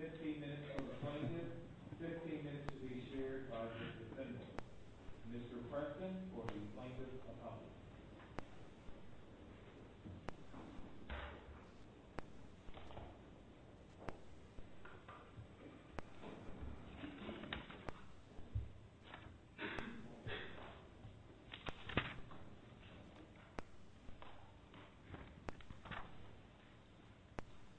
15 minutes of the plaintiff, 15 minutes to be shared by Mr. Simons, Mr. Preston, or the plaintiff's attorney.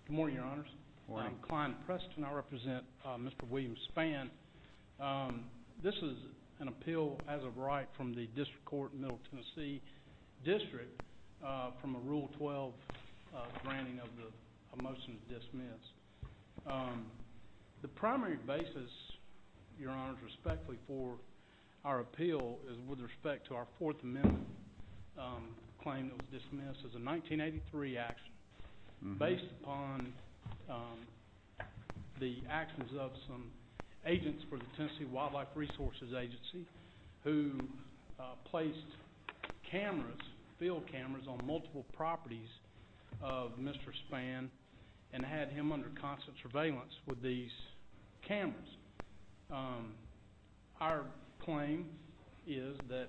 Good morning, Your Honors. Good morning. I'm Klein Preston. I represent Mr. William Spann. This is an appeal as of right from the District Court in Middle Tennessee District from a motion to dismiss. The primary basis, Your Honors, respectfully for our appeal is with respect to our Fourth Amendment claim that was dismissed as a 1983 action based upon the actions of some agents for the Tennessee Wildlife Resources Agency who placed cameras, field cameras, on multiple properties of Mr. Spann and had him under constant surveillance with these cameras. Our claim is that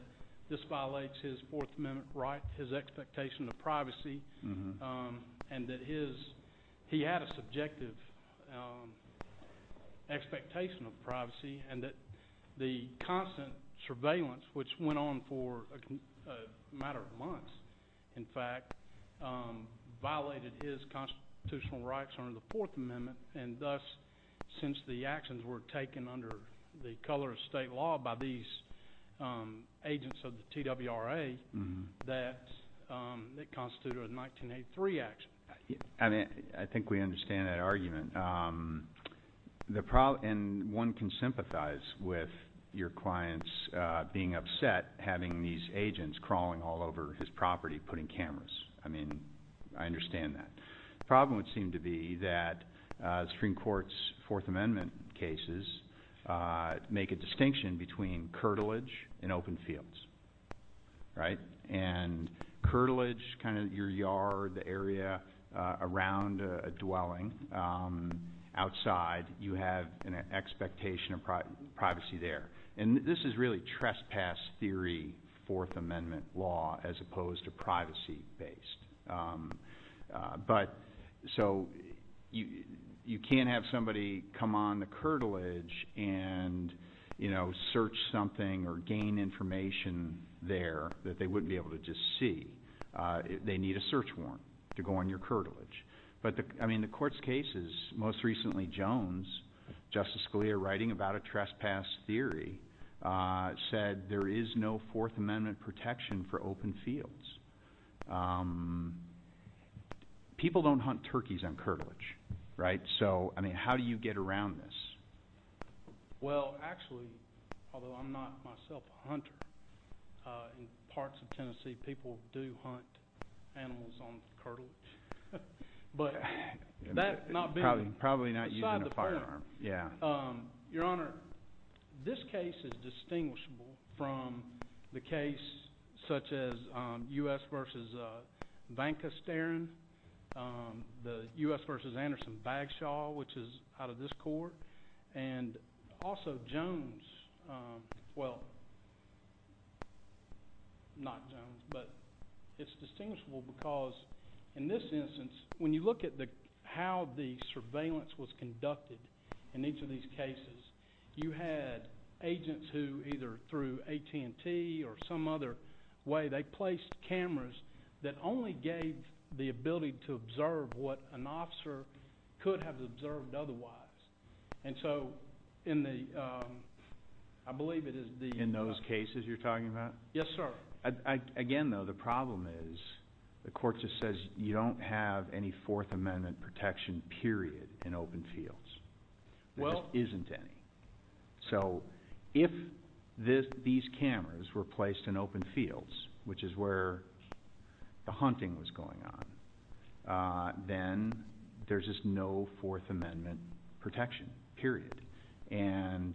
this violates his Fourth Amendment right, his expectation of privacy, and that he had a subjective expectation of privacy and that the constant surveillance, which went on for a matter of months, in fact, violated his constitutional rights under the Fourth Amendment and thus since the actions were taken under the color of state law by these agents of the TWRA that constituted a 1983 action. I think we understand that argument. And one can sympathize with your clients being upset having these agents crawling all over his property putting cameras. I mean, I understand that. The problem would seem to be that the Supreme Court's Fourth Amendment cases make a distinction between curtilage and open fields, right? And curtilage, kind of your yard, the area around a dwelling, outside, you have an expectation of privacy there. And this is really trespass theory Fourth Amendment law as opposed to privacy-based. But so you can't have somebody come on the curtilage and, you know, search something or gain information there that they wouldn't be able to just see. They need a search warrant to go on your curtilage. But, I mean, the Court's cases, most recently Jones, Justice Scalia, writing about a trespass theory, said there is no Fourth Amendment protection for open fields. People don't hunt turkeys on curtilage, right? So, I mean, how do you get around this? Well, actually, although I'm not myself a hunter, in parts of Tennessee people do hunt animals on curtilage. But that's not being used. Probably not using a firearm. Yeah. Your Honor, this case is distinguishable from the case such as U.S. v. Van Casteren, the U.S. v. Anderson-Bagshaw, which is out of this Court, and also Jones. Well, not Jones, but it's distinguishable because in this instance, when you look at how the surveillance was conducted in each of these cases, you had agents who either through AT&T or some other way, they placed cameras that only gave the ability to observe what an officer could have observed otherwise. And so in the, I believe it is the— In those cases you're talking about? Yes, sir. Again, though, the problem is the Court just says you don't have any Fourth Amendment protection, period, in open fields. There just isn't any. So if these cameras were placed in open fields, which is where the hunting was going on, then there's just no Fourth Amendment protection, period. And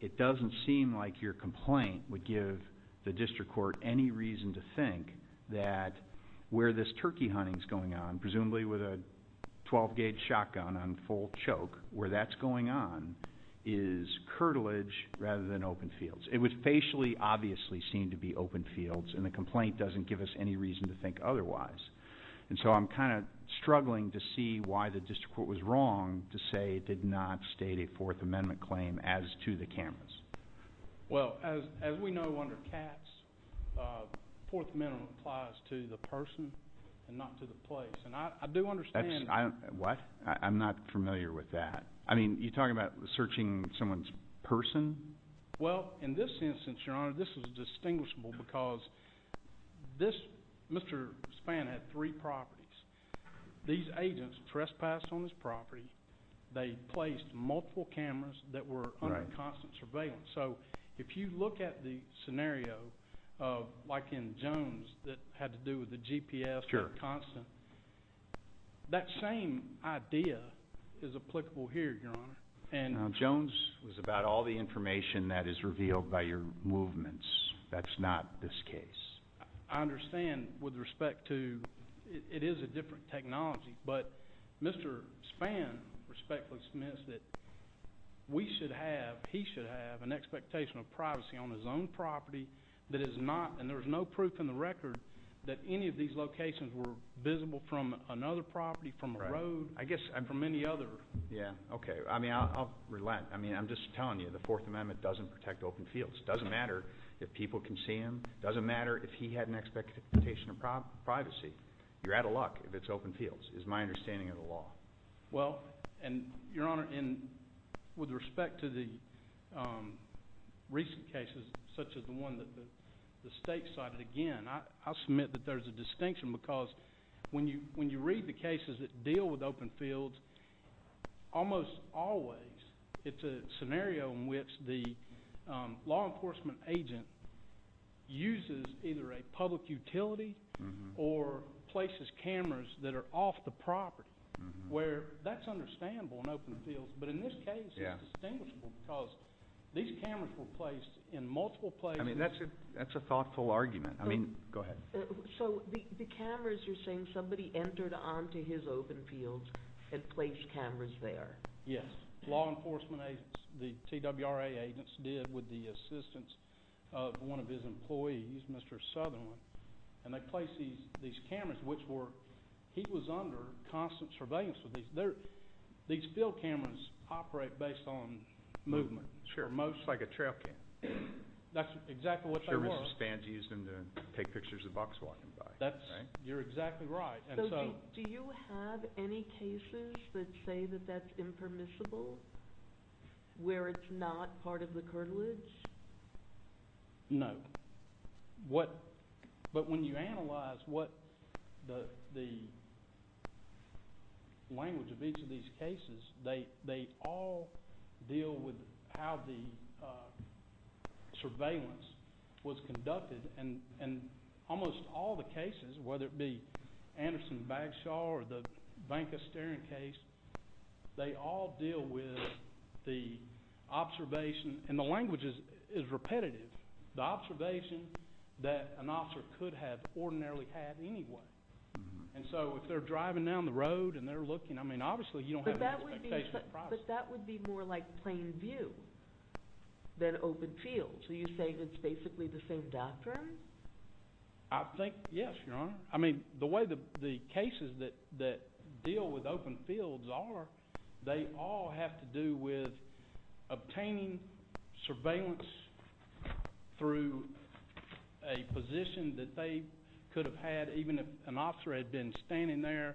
it doesn't seem like your complaint would give the District Court any reason to think that where this turkey hunting is going on, is curtilage rather than open fields. It would facially obviously seem to be open fields, and the complaint doesn't give us any reason to think otherwise. And so I'm kind of struggling to see why the District Court was wrong to say it did not state a Fourth Amendment claim as to the cameras. Well, as we know under CATS, Fourth Amendment applies to the person and not to the place. And I do understand— What? I'm not familiar with that. I mean, are you talking about searching someone's person? Well, in this instance, Your Honor, this is distinguishable because Mr. Spann had three properties. These agents trespassed on his property. They placed multiple cameras that were under constant surveillance. So if you look at the scenario like in Jones that had to do with the GPS being constant, that same idea is applicable here, Your Honor. Now, Jones was about all the information that is revealed by your movements. That's not this case. I understand with respect to—it is a different technology. But Mr. Spann respectfully admits that we should have—he should have an expectation of privacy on his own property that is not—and there is no proof in the record that any of these locations were visible from another property, from a road, I guess from any other. Yeah, okay. I mean, I'll relent. I mean, I'm just telling you the Fourth Amendment doesn't protect open fields. It doesn't matter if people can see him. It doesn't matter if he had an expectation of privacy. You're out of luck if it's open fields is my understanding of the law. Well, and, Your Honor, with respect to the recent cases such as the one that the state cited again, I'll submit that there's a distinction because when you read the cases that deal with open fields, almost always it's a scenario in which the law enforcement agent uses either a public utility or places cameras that are off the property. Where that's understandable in open fields, but in this case it's distinguishable because these cameras were placed in multiple places. I mean, that's a thoughtful argument. I mean—go ahead. So the cameras you're saying somebody entered onto his open fields and placed cameras there. Yes. That's exactly what law enforcement agents, the TWRA agents, did with the assistance of one of his employees, Mr. Southerland. And they placed these cameras, which were—he was under constant surveillance with these. These field cameras operate based on movement. Sure. Like a trail camera. That's exactly what they were. Sure as a stand to use them to take pictures of the bucks walking by. You're exactly right. So do you have any cases that say that that's impermissible where it's not part of the cartilage? No. But when you analyze what the language of each of these cases, they all deal with how the surveillance was conducted. And almost all the cases, whether it be Anderson-Bagshaw or the Banka-Steering case, they all deal with the observation. And the language is repetitive. The observation that an officer could have ordinarily had anyway. And so if they're driving down the road and they're looking, I mean, obviously you don't have any expectation of the process. But that would be more like plain view than open field. So you say it's basically the same doctrine? I think, yes, Your Honor. I mean, the way the cases that deal with open fields are, they all have to do with obtaining surveillance through a position that they could have had even if an officer had been standing there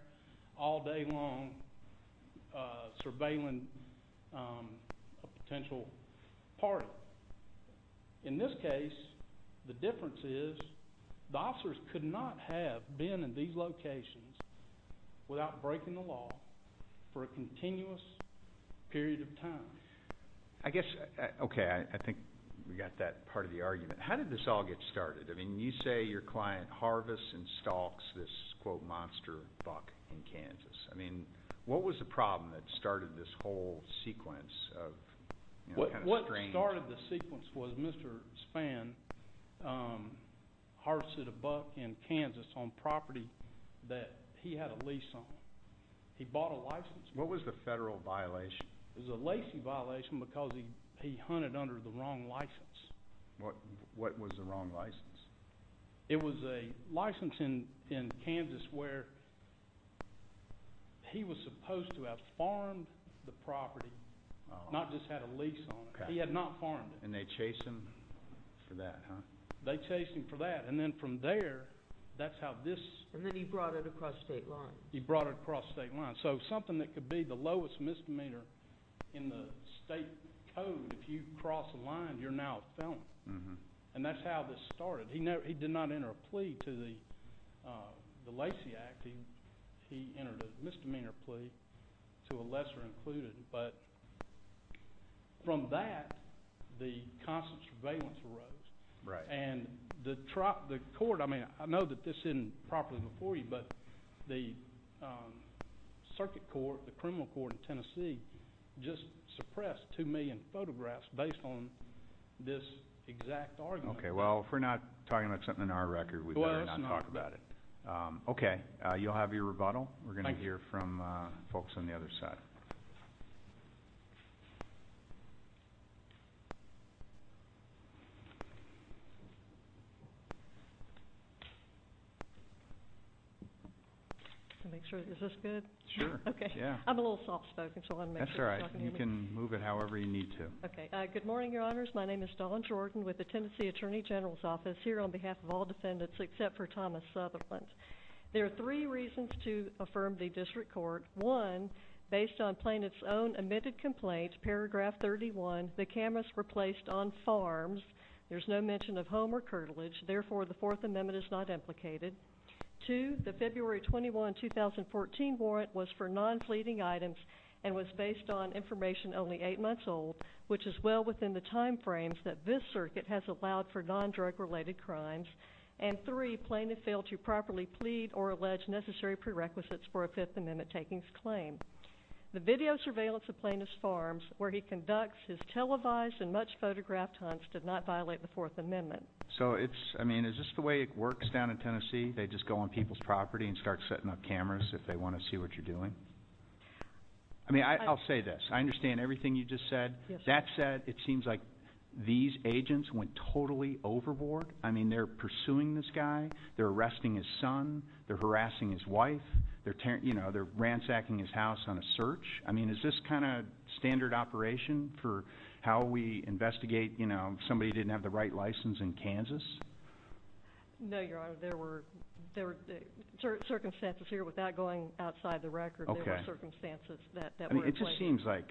all day long surveilling a potential party. But in this case, the difference is the officers could not have been in these locations without breaking the law for a continuous period of time. I guess, OK, I think we got that part of the argument. How did this all get started? I mean, you say your client harvests and stalks this, quote, monster buck in Kansas. I mean, what was the problem that started this whole sequence of kind of strange? What started the sequence was Mr. Spann harvested a buck in Kansas on property that he had a lease on. He bought a license. What was the federal violation? It was a lacing violation because he hunted under the wrong license. What was the wrong license? It was a license in Kansas where he was supposed to have farmed the property, not just had a lease on it. He had not farmed it. And they chased him for that, huh? They chased him for that. And then from there, that's how this – And then he brought it across state lines. He brought it across state lines. So something that could be the lowest misdemeanor in the state code, if you cross a line, you're now a felon. And that's how this started. He did not enter a plea to the Lacey Act. He entered a misdemeanor plea to a lesser included. But from that, the constant surveillance arose. Right. And the court – I mean, I know that this isn't properly before you, but the circuit court, the criminal court in Tennessee just suppressed 2 million photographs based on this exact argument. Okay. Well, if we're not talking about something in our record, we better not talk about it. Okay. You'll have your rebuttal. We're going to hear from folks on the other side. Is this good? Sure. Okay. Yeah. I'm a little soft-spoken, so I want to make sure I'm talking to you. That's all right. You can move it however you need to. Okay. Good morning, Your Honors. My name is Dawn Jordan with the Tennessee Attorney General's Office here on behalf of all defendants except for Thomas Sutherland. There are three reasons to affirm the district court. One, based on plaintiff's own admitted complaint, paragraph 31, the cameras were placed on farms. There's no mention of home or curtilage. Therefore, the Fourth Amendment is not implicated. Two, the February 21, 2014, warrant was for non-fleeting items and was based on information only eight months old, which is well within the time frames that this circuit has allowed for non-drug-related crimes. And three, plaintiff failed to properly plead or allege necessary prerequisites for a Fifth Amendment takings claim. The video surveillance of plaintiff's farms where he conducts his televised and much-photographed hunts did not violate the Fourth Amendment. So, I mean, is this the way it works down in Tennessee? They just go on people's property and start setting up cameras if they want to see what you're doing? I mean, I'll say this. I understand everything you just said. That said, it seems like these agents went totally overboard. I mean, they're pursuing this guy. They're arresting his son. They're harassing his wife. They're ransacking his house on a search. I mean, is this kind of standard operation for how we investigate, you know, somebody didn't have the right license in Kansas? No, Your Honor. There were circumstances here without going outside the record. There were circumstances that were in place. Okay. I mean, it just seems like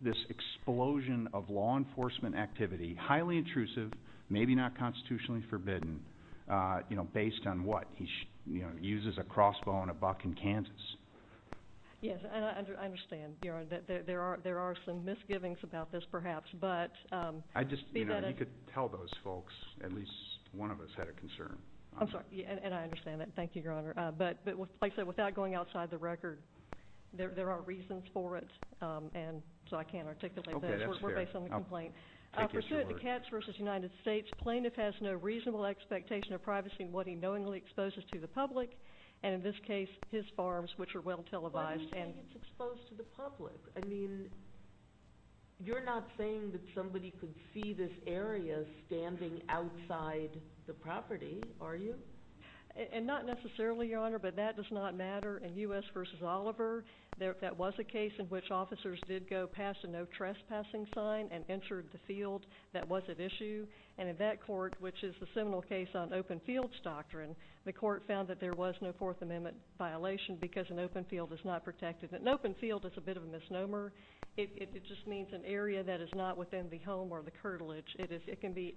this explosion of law enforcement activity, highly intrusive, maybe not constitutionally forbidden, you know, based on what? He, you know, uses a crossbow on a buck in Kansas. Yes, and I understand, Your Honor, that there are some misgivings about this perhaps. I just, you know, if you could tell those folks, at least one of us had a concern. I'm sorry. And I understand that. Thank you, Your Honor. But like I said, without going outside the record, there are reasons for it, and so I can't articulate that. Okay, that's fair. We're based on the complaint. For good, the Kats v. United States plaintiff has no reasonable expectation of privacy in what he knowingly exposes to the public, and in this case, his farms, which are well televised. But you think it's exposed to the public. I mean, you're not saying that somebody could see this area standing outside the property, are you? And not necessarily, Your Honor, but that does not matter. In U.S. v. Oliver, that was a case in which officers did go past a no trespassing sign and entered the field. That was at issue. And in that court, which is the seminal case on open fields doctrine, the court found that there was no Fourth Amendment violation because an open field is not protected. An open field is a bit of a misnomer. It just means an area that is not within the home or the curtilage. It can be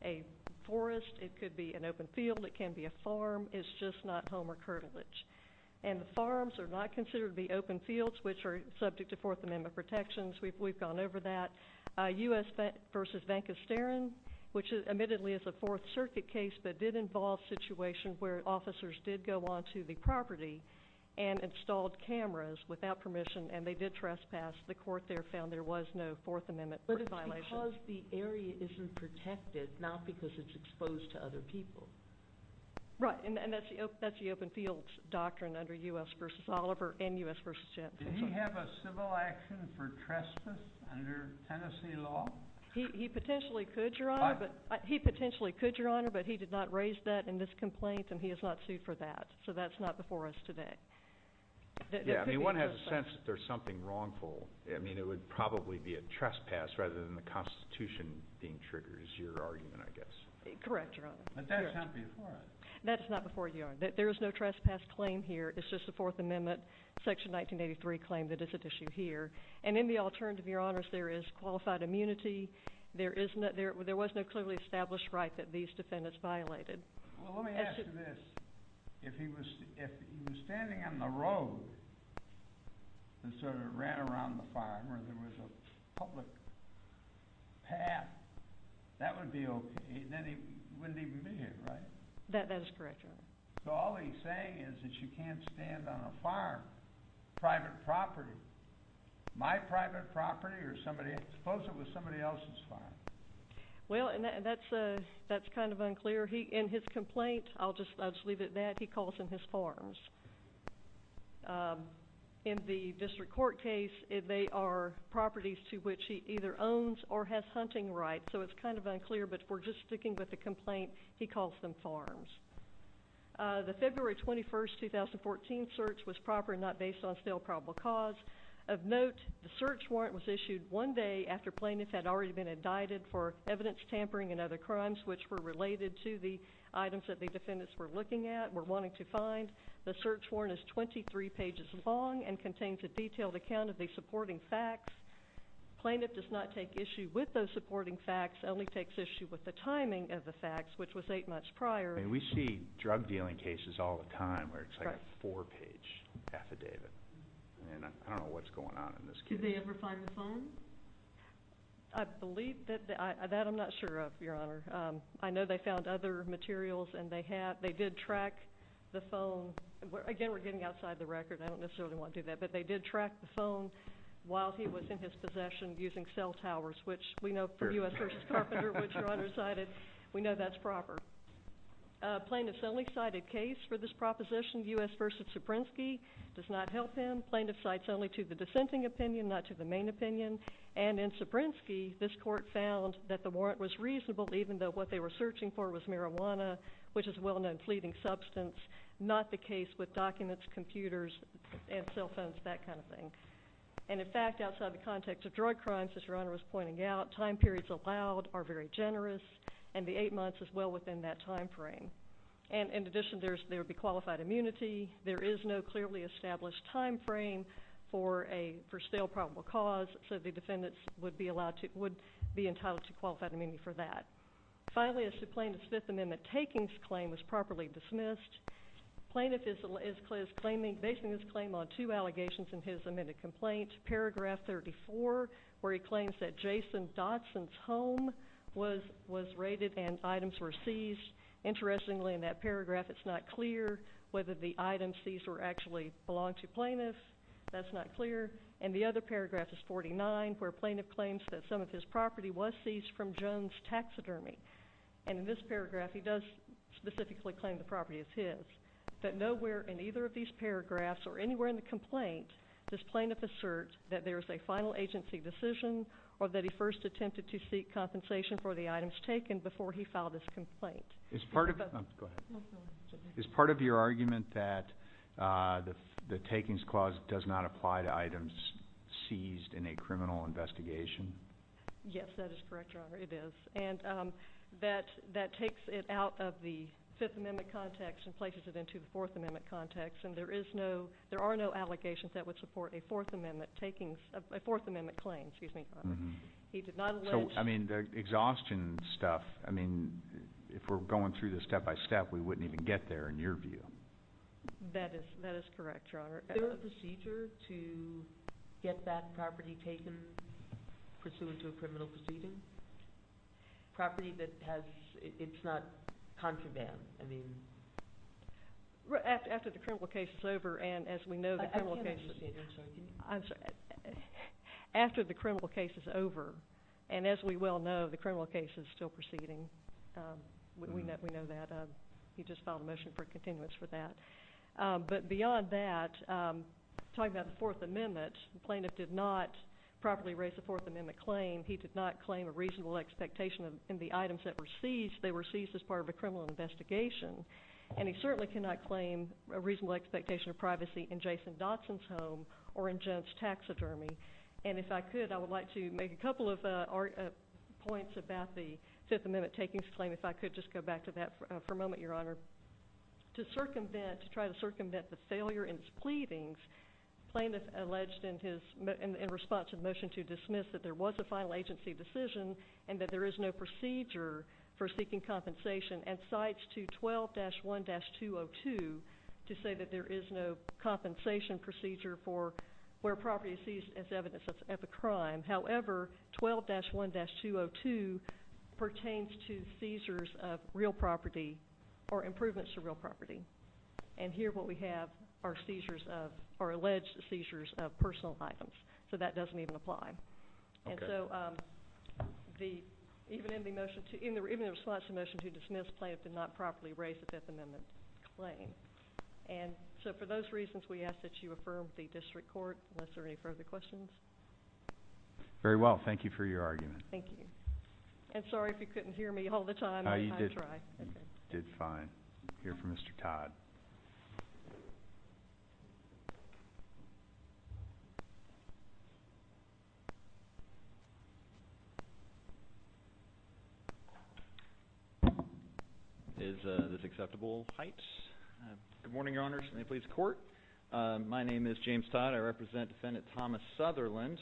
a forest. It could be an open field. It can be a farm. It's just not home or curtilage. And the farms are not considered to be open fields, which are subject to Fourth Amendment protections. We've gone over that. U.S. v. Vancousteran, which admittedly is a Fourth Circuit case, but did involve a situation where officers did go onto the property and installed cameras without permission, and they did trespass. The court there found there was no Fourth Amendment violation. But it's because the area isn't protected, not because it's exposed to other people. Right. And that's the open fields doctrine under U.S. v. Oliver and U.S. v. Vancousteran. Did he have a civil action for trespass under Tennessee law? He potentially could, Your Honor. He potentially could, Your Honor, but he did not raise that in this complaint, and he is not sued for that. So that's not before us today. Yeah, I mean, one has a sense that there's something wrongful. I mean, it would probably be a trespass rather than the Constitution being triggered is your argument, I guess. Correct, Your Honor. But that's not before us. That's not before you. There is no trespass claim here. It's just a Fourth Amendment Section 1983 claim that is at issue here. And in the alternative, Your Honors, there is qualified immunity. There was no clearly established right that these defendants violated. Well, let me ask you this. If he was standing on the road and sort of ran around the farm where there was a public path, that would be okay. Then he wouldn't even be here, right? That is correct, Your Honor. So all he's saying is that you can't stand on a farm, private property. My private property or somebody's? Suppose it was somebody else's farm. Well, that's kind of unclear. In his complaint, I'll just leave it at that, he calls them his farms. In the district court case, they are properties to which he either owns or has hunting rights. So it's kind of unclear. But if we're just sticking with the complaint, he calls them farms. The February 21st, 2014 search was proper and not based on still probable cause. Of note, the search warrant was issued one day after plaintiffs had already been indicted for evidence tampering and other crimes, which were related to the items that the defendants were looking at, were wanting to find. The search warrant is 23 pages long and contains a detailed account of the supporting facts. Plaintiff does not take issue with those supporting facts, only takes issue with the timing of the facts, which was eight months prior. We see drug dealing cases all the time where it's like a four-page affidavit, and I don't know what's going on in this case. Did they ever find the phone? I believe that. That I'm not sure of, Your Honor. I know they found other materials, and they did track the phone. Again, we're getting outside the record. I don't necessarily want to do that, but they did track the phone while he was in his possession using cell towers, which we know for U.S. v. Carpenter, which Your Honor cited, we know that's proper. Plaintiff's only cited case for this proposition, U.S. v. Suprensky, does not help him. Plaintiff cites only to the dissenting opinion, not to the main opinion, and in Suprensky, this court found that the warrant was reasonable even though what they were searching for was marijuana, which is a well-known fleeting substance, not the case with documents, computers, and cell phones, that kind of thing. And in fact, outside the context of drug crimes, as Your Honor was pointing out, time periods allowed are very generous, and the eight months is well within that time frame. And in addition, there would be qualified immunity. There is no clearly established time frame for stale probable cause, so the defendants would be entitled to qualified immunity for that. Finally, as to Plaintiff's Fifth Amendment takings claim was properly dismissed, Plaintiff is claiming, basing his claim on two allegations in his amended complaint. Paragraph 34, where he claims that Jason Dodson's home was raided and items were seized. Interestingly, in that paragraph, it's not clear whether the items seized were actually belonging to Plaintiff. That's not clear. And the other paragraph is 49, where Plaintiff claims that some of his property was seized from Jones' taxidermy. And in this paragraph, he does specifically claim the property is his. But nowhere in either of these paragraphs or anywhere in the complaint does Plaintiff assert that there is a final agency decision or that he first attempted to seek compensation for the items taken before he filed this complaint. Is part of your argument that the takings clause does not apply to items seized in a criminal investigation? Yes, that is correct, Your Honor, it is. And that takes it out of the Fifth Amendment context and places it into the Fourth Amendment context. And there are no allegations that would support a Fourth Amendment claim. So, I mean, the exhaustion stuff, I mean, if we're going through this step by step, we wouldn't even get there in your view. That is correct, Your Honor. Is there a procedure to get that property taken pursuant to a criminal proceeding? Property that has, it's not contraband, I mean. After the criminal case is over, and as we know the criminal case is over, and as we well know, the criminal case is still proceeding. We know that. He just filed a motion for continuance for that. But beyond that, talking about the Fourth Amendment, the plaintiff did not properly raise the Fourth Amendment claim. He did not claim a reasonable expectation in the items that were seized. They were seized as part of a criminal investigation. And he certainly cannot claim a reasonable expectation of privacy in Jason Dodson's home or in Jones' taxidermy. And if I could, I would like to make a couple of points about the Fifth Amendment takings claim, if I could just go back to that for a moment, Your Honor. To circumvent, to try to circumvent the failure in his pleadings, the plaintiff alleged in response to the motion to dismiss that there was a final agency decision and that there is no procedure for seeking compensation, and cites to 12-1-202 to say that there is no compensation procedure for where property is seized as evidence of a crime. However, 12-1-202 pertains to seizures of real property or improvements to real property. And here what we have are seizures of, are alleged seizures of personal items. So that doesn't even apply. And so the, even in the motion to, in the response to the motion to dismiss, the plaintiff did not properly raise the Fifth Amendment claim. And so for those reasons, we ask that you affirm the district court, unless there are any further questions. Very well. Thank you for your argument. Thank you. And sorry if you couldn't hear me all the time. You did fine. I'm here for Mr. Todd. Is this acceptable heights? Good morning, Your Honors. May it please the court. My name is James Todd. I represent Defendant Thomas Sutherland.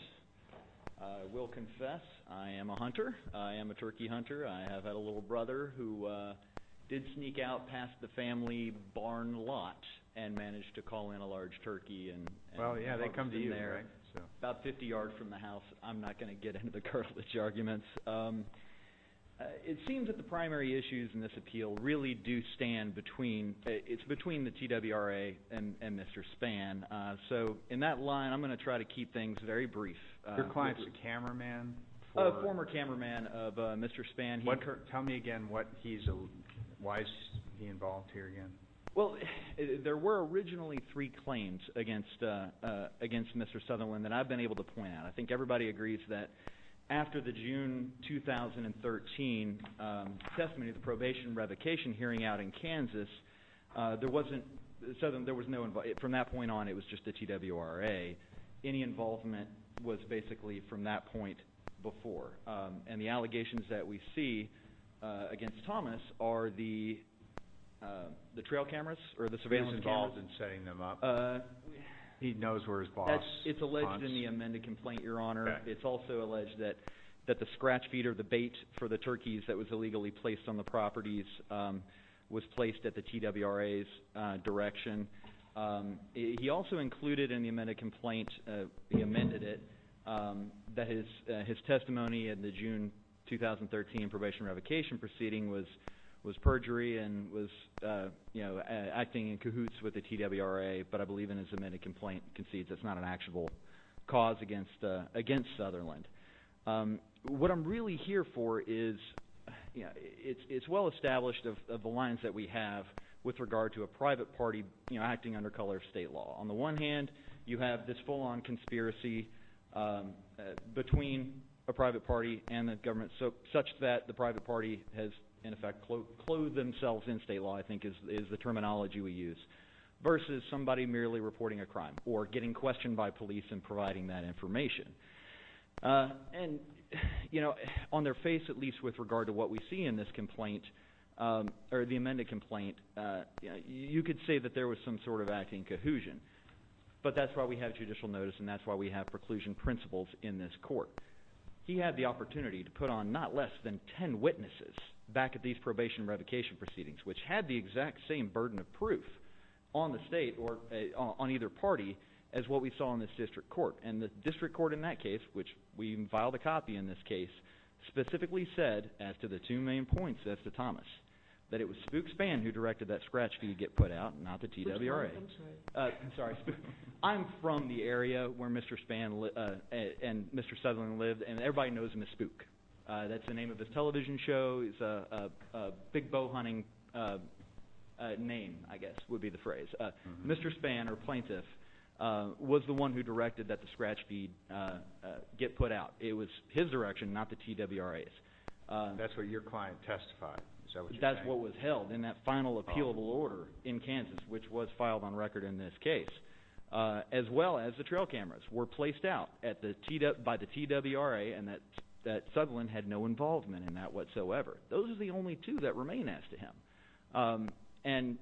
I will confess I am a hunter. I am a turkey hunter. I have a little brother who did sneak out past the family barn lot and managed to call in a large turkey. Well, yeah, they come to you, right? About 50 yards from the house. I'm not going to get into the cartilage arguments. It seems that the primary issues in this appeal really do stand between, it's between the TWRA and Mr. Spann. So in that line, I'm going to try to keep things very brief. Your client was a cameraman? A former cameraman of Mr. Spann. Tell me again why he's involved here again. Well, there were originally three claims against Mr. Sutherland that I've been able to point out. I think everybody agrees that after the June 2013 testimony, the probation revocation hearing out in Kansas, there wasn't – Sutherland, there was no – from that point on, it was just the TWRA. Any involvement was basically from that point before. And the allegations that we see against Thomas are the trail cameras or the surveillance cameras. He's involved in setting them up. He knows where his boss – It's alleged in the amended complaint, Your Honor. It's also alleged that the scratch feeder, the bait for the turkeys that was illegally placed on the properties, was placed at the TWRA's direction. He also included in the amended complaint, he amended it, that his testimony in the June 2013 probation revocation proceeding was perjury and was acting in cahoots with the TWRA. But I believe in his amended complaint concedes it's not an actual cause against Sutherland. What I'm really here for is it's well established of the lines that we have with regard to a private party acting under color of state law. On the one hand, you have this full-on conspiracy between a private party and the government, such that the private party has in effect clothed themselves in state law, I think is the terminology we use, versus somebody merely reporting a crime or getting questioned by police and providing that information. And on their face, at least with regard to what we see in this complaint or the amended complaint, you could say that there was some sort of acting cohesion. But that's why we have judicial notice, and that's why we have preclusion principles in this court. He had the opportunity to put on not less than ten witnesses back at these probation revocation proceedings, which had the exact same burden of proof on the state or on either party as what we saw in this district court. And the district court in that case, which we even filed a copy in this case, specifically said, as to the two main points as to Thomas, that it was Spook Spann who directed that scratch fee get put out, not the TWRA. I'm sorry, Spook. I'm from the area where Mr. Spann and Mr. Sutherland lived, and everybody knows him as Spook. That's the name of his television show. It's a big bow-hunting name, I guess would be the phrase. Mr. Spann, or plaintiff, was the one who directed that the scratch fee get put out. It was his direction, not the TWRA's. That's what your client testified, is that what you're saying? That's what was held in that final appealable order in Kansas, which was filed on record in this case, as well as the trail cameras, were placed out by the TWRA, and that Sutherland had no involvement in that whatsoever. Those are the only two that remain as to him. And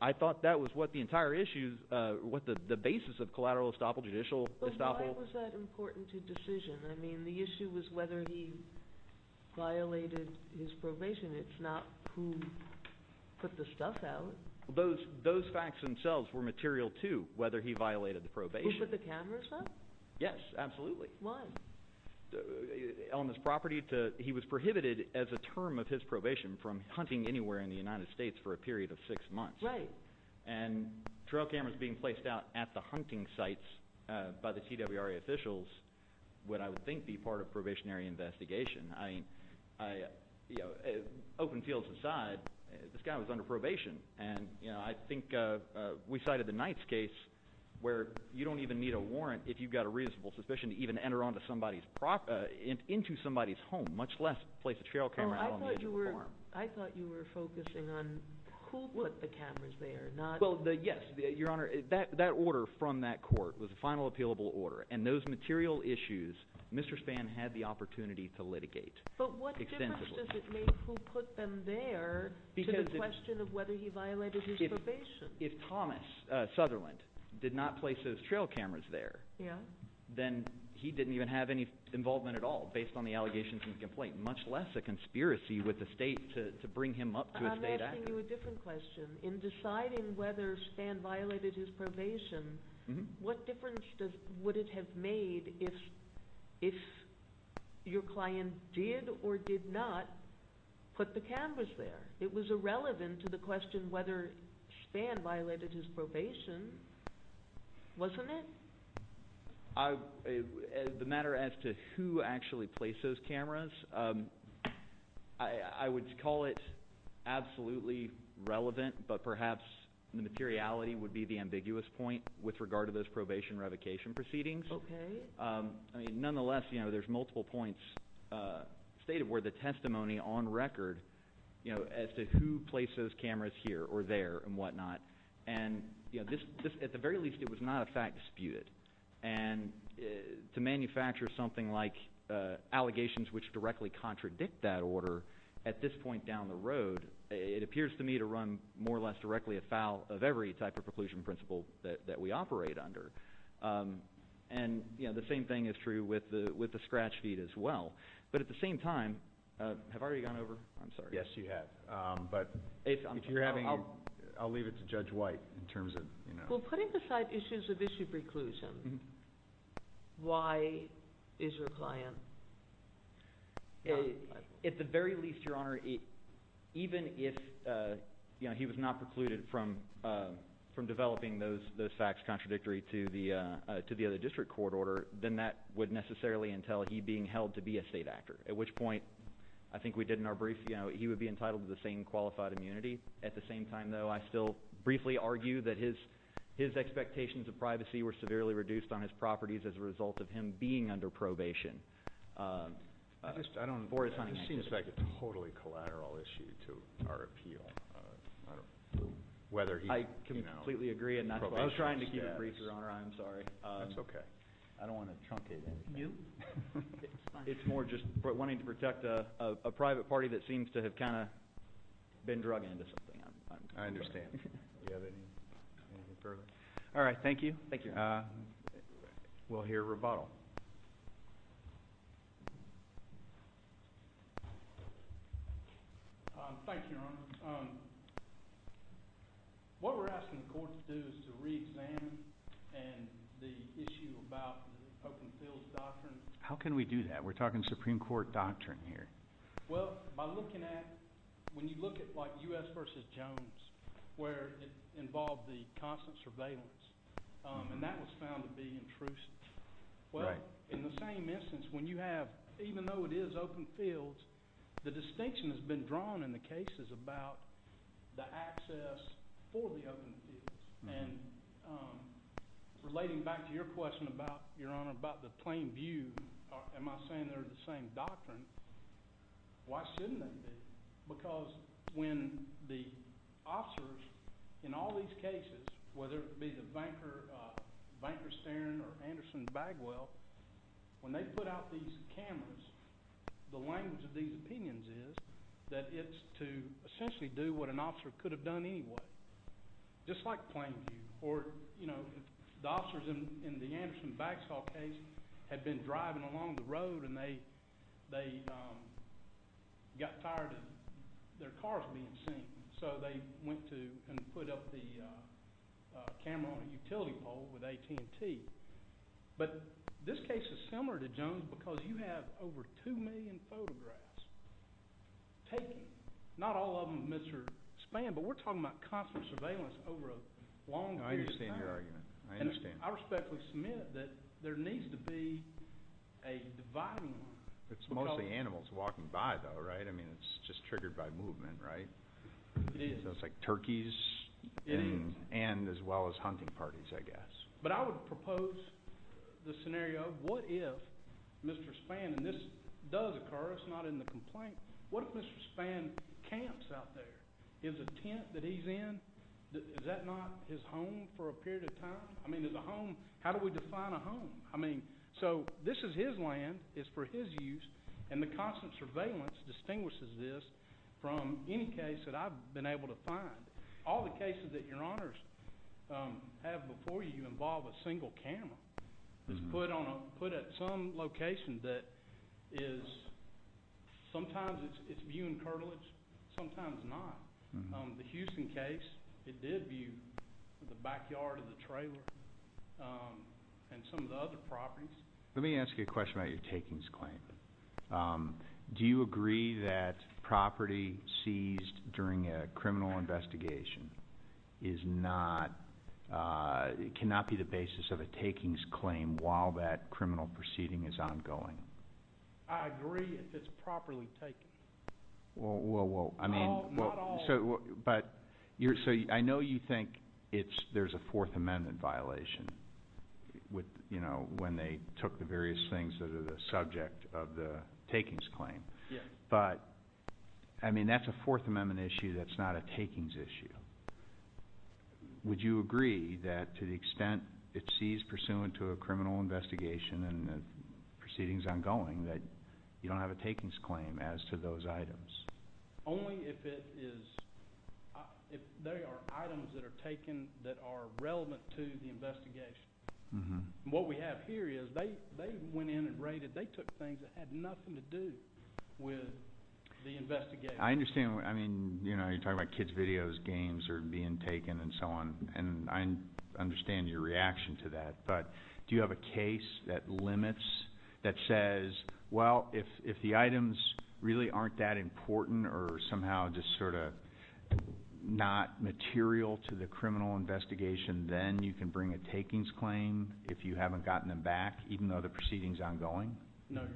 I thought that was what the entire issue, what the basis of collateral estoppel, judicial estoppel— But why was that important to decision? I mean, the issue was whether he violated his probation. It's not who put the stuff out. Those facts themselves were material to whether he violated the probation. Who put the cameras out? Yes, absolutely. Why? On his property, he was prohibited as a term of his probation from hunting anywhere in the United States for a period of six months. Right. And trail cameras being placed out at the hunting sites by the TWRA officials would, I would think, be part of probationary investigation. I mean, open fields aside, this guy was under probation. And I think we cited the Knights case where you don't even need a warrant if you've got a reasonable suspicion to even enter into somebody's home, much less place a trail camera out on the edge of a farm. I thought you were focusing on who put the cameras there, not— Well, yes, Your Honor. That order from that court was a final appealable order, and those material issues Mr. Spann had the opportunity to litigate extensively. But what difference does it make who put them there to the question of whether he violated his probation? If Thomas Sutherland did not place those trail cameras there, then he didn't even have any involvement at all based on the allegations in the complaint, much less a conspiracy with the state to bring him up to a state act. I'm asking you a different question. In deciding whether Spann violated his probation, what difference would it have made if your client did or did not put the cameras there? It was irrelevant to the question whether Spann violated his probation, wasn't it? The matter as to who actually placed those cameras, I would call it absolutely relevant, but perhaps the materiality would be the ambiguous point with regard to those probation revocation proceedings. Nonetheless, there's multiple points stated where the testimony on record as to who placed those cameras here or there and whatnot. At the very least, it was not a fact disputed. And to manufacture something like allegations which directly contradict that order at this point down the road, it appears to me to run more or less directly afoul of every type of preclusion principle that we operate under. And the same thing is true with the scratch feed as well. But at the same time – have I already gone over? Yes, you have. But if you're having – I'll leave it to Judge White in terms of – Well, putting aside issues of issue preclusion, why is your client – At the very least, Your Honor, even if he was not precluded from developing those facts contradictory to the other district court order, then that would necessarily entail he being held to be a state actor, at which point I think we did in our brief – he would be entitled to the same qualified immunity. At the same time, though, I still briefly argue that his expectations of privacy were severely reduced on his properties as a result of him being under probation. I just – I don't – This seems like a totally collateral issue to our appeal, whether he – I completely agree. I was trying to keep it brief, Your Honor. I'm sorry. That's okay. I don't want to truncate anything. You? It's more just wanting to protect a private party that seems to have kind of been drug into something. I understand. Do you have anything further? All right. Thank you. Thank you. We'll hear rebuttal. Thank you, Your Honor. What we're asking the court to do is to reexamine the issue about the open field doctrine. How can we do that? We're talking Supreme Court doctrine here. Well, by looking at – when you look at like U.S. v. Jones, where it involved the constant surveillance, and that was found to be intrusive. Right. In the same instance, when you have – even though it is open fields, the distinction has been drawn in the cases about the access for the open fields. And relating back to your question about, Your Honor, about the plain view, am I saying they're the same doctrine? Why shouldn't they be? Because when the officers in all these cases, whether it be the Banker-Stern or Anderson-Bagwell, when they put out these cameras, the language of these opinions is that it's to essentially do what an officer could have done anyway, just like plain view. Or, you know, the officers in the Anderson-Bagsall case had been driving along the road, and they got tired of their cars being seen. So they went to and put up the camera on a utility pole with AT&T. But this case is similar to Jones because you have over 2 million photographs taken. Not all of them of Mr. Spann, but we're talking about constant surveillance over a long period of time. I understand your argument. I understand. I respectfully submit that there needs to be a dividing line. It's mostly animals walking by, though, right? I mean, it's just triggered by movement, right? It is. So it's like turkeys. It is. And as well as hunting parties, I guess. But I would propose the scenario, what if Mr. Spann, and this does occur. It's not in the complaint. What if Mr. Spann camps out there? Is a tent that he's in, is that not his home for a period of time? I mean, is a home, how do we define a home? I mean, so this is his land. It's for his use. And the constant surveillance distinguishes this from any case that I've been able to find. All the cases that your honors have before you involve a single camera. It's put at some location that is, sometimes it's viewing curtilage, sometimes not. The Houston case, it did view the backyard of the trailer and some of the other properties. Let me ask you a question about your takings claim. Do you agree that property seized during a criminal investigation is not, cannot be the basis of a takings claim while that criminal proceeding is ongoing? I agree if it's properly taken. Not all. So I know you think there's a Fourth Amendment violation when they took the various things that are the subject of the takings claim. Yes. But, I mean, that's a Fourth Amendment issue that's not a takings issue. Would you agree that to the extent it's seized pursuant to a criminal investigation and the proceeding is ongoing, that you don't have a takings claim as to those items? Only if it is, if they are items that are taken that are relevant to the investigation. What we have here is they went in and raided, they took things that had nothing to do with the investigation. I understand. I mean, you know, you're talking about kids' videos, games are being taken and so on. And I understand your reaction to that. But do you have a case that limits, that says, well, if the items really aren't that important or somehow just sort of not material to the criminal investigation, then you can bring a takings claim if you haven't gotten them back, even though the proceeding is ongoing? No, Your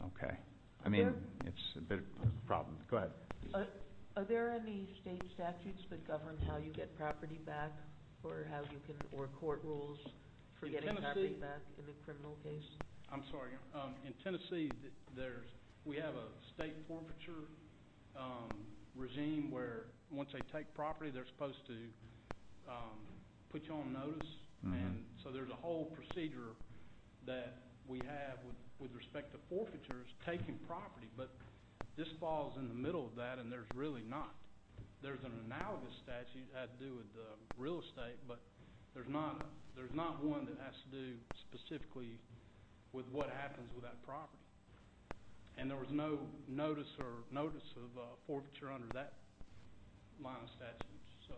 Honor. Okay. I mean, it's a bit of a problem. Go ahead. Are there any state statutes that govern how you get property back or how you can – or court rules for getting property back in a criminal case? I'm sorry. In Tennessee, there's – we have a state forfeiture regime where once they take property, they're supposed to put you on notice. And so there's a whole procedure that we have with respect to forfeitures taking property. But this falls in the middle of that, and there's really not. There's an analogous statute that had to do with real estate, but there's not one that has to do specifically with what happens with that property. And there was no notice or notice of forfeiture under that line of statute. So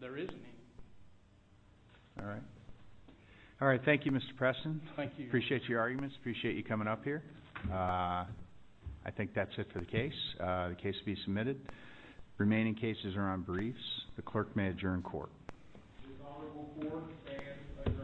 there isn't any. All right. All right. Thank you, Mr. Preston. Thank you. Appreciate your arguments. Appreciate you coming up here. I think that's it for the case. The case will be submitted. The remaining cases are on briefs. The clerk may adjourn court. The honorable court is adjourned.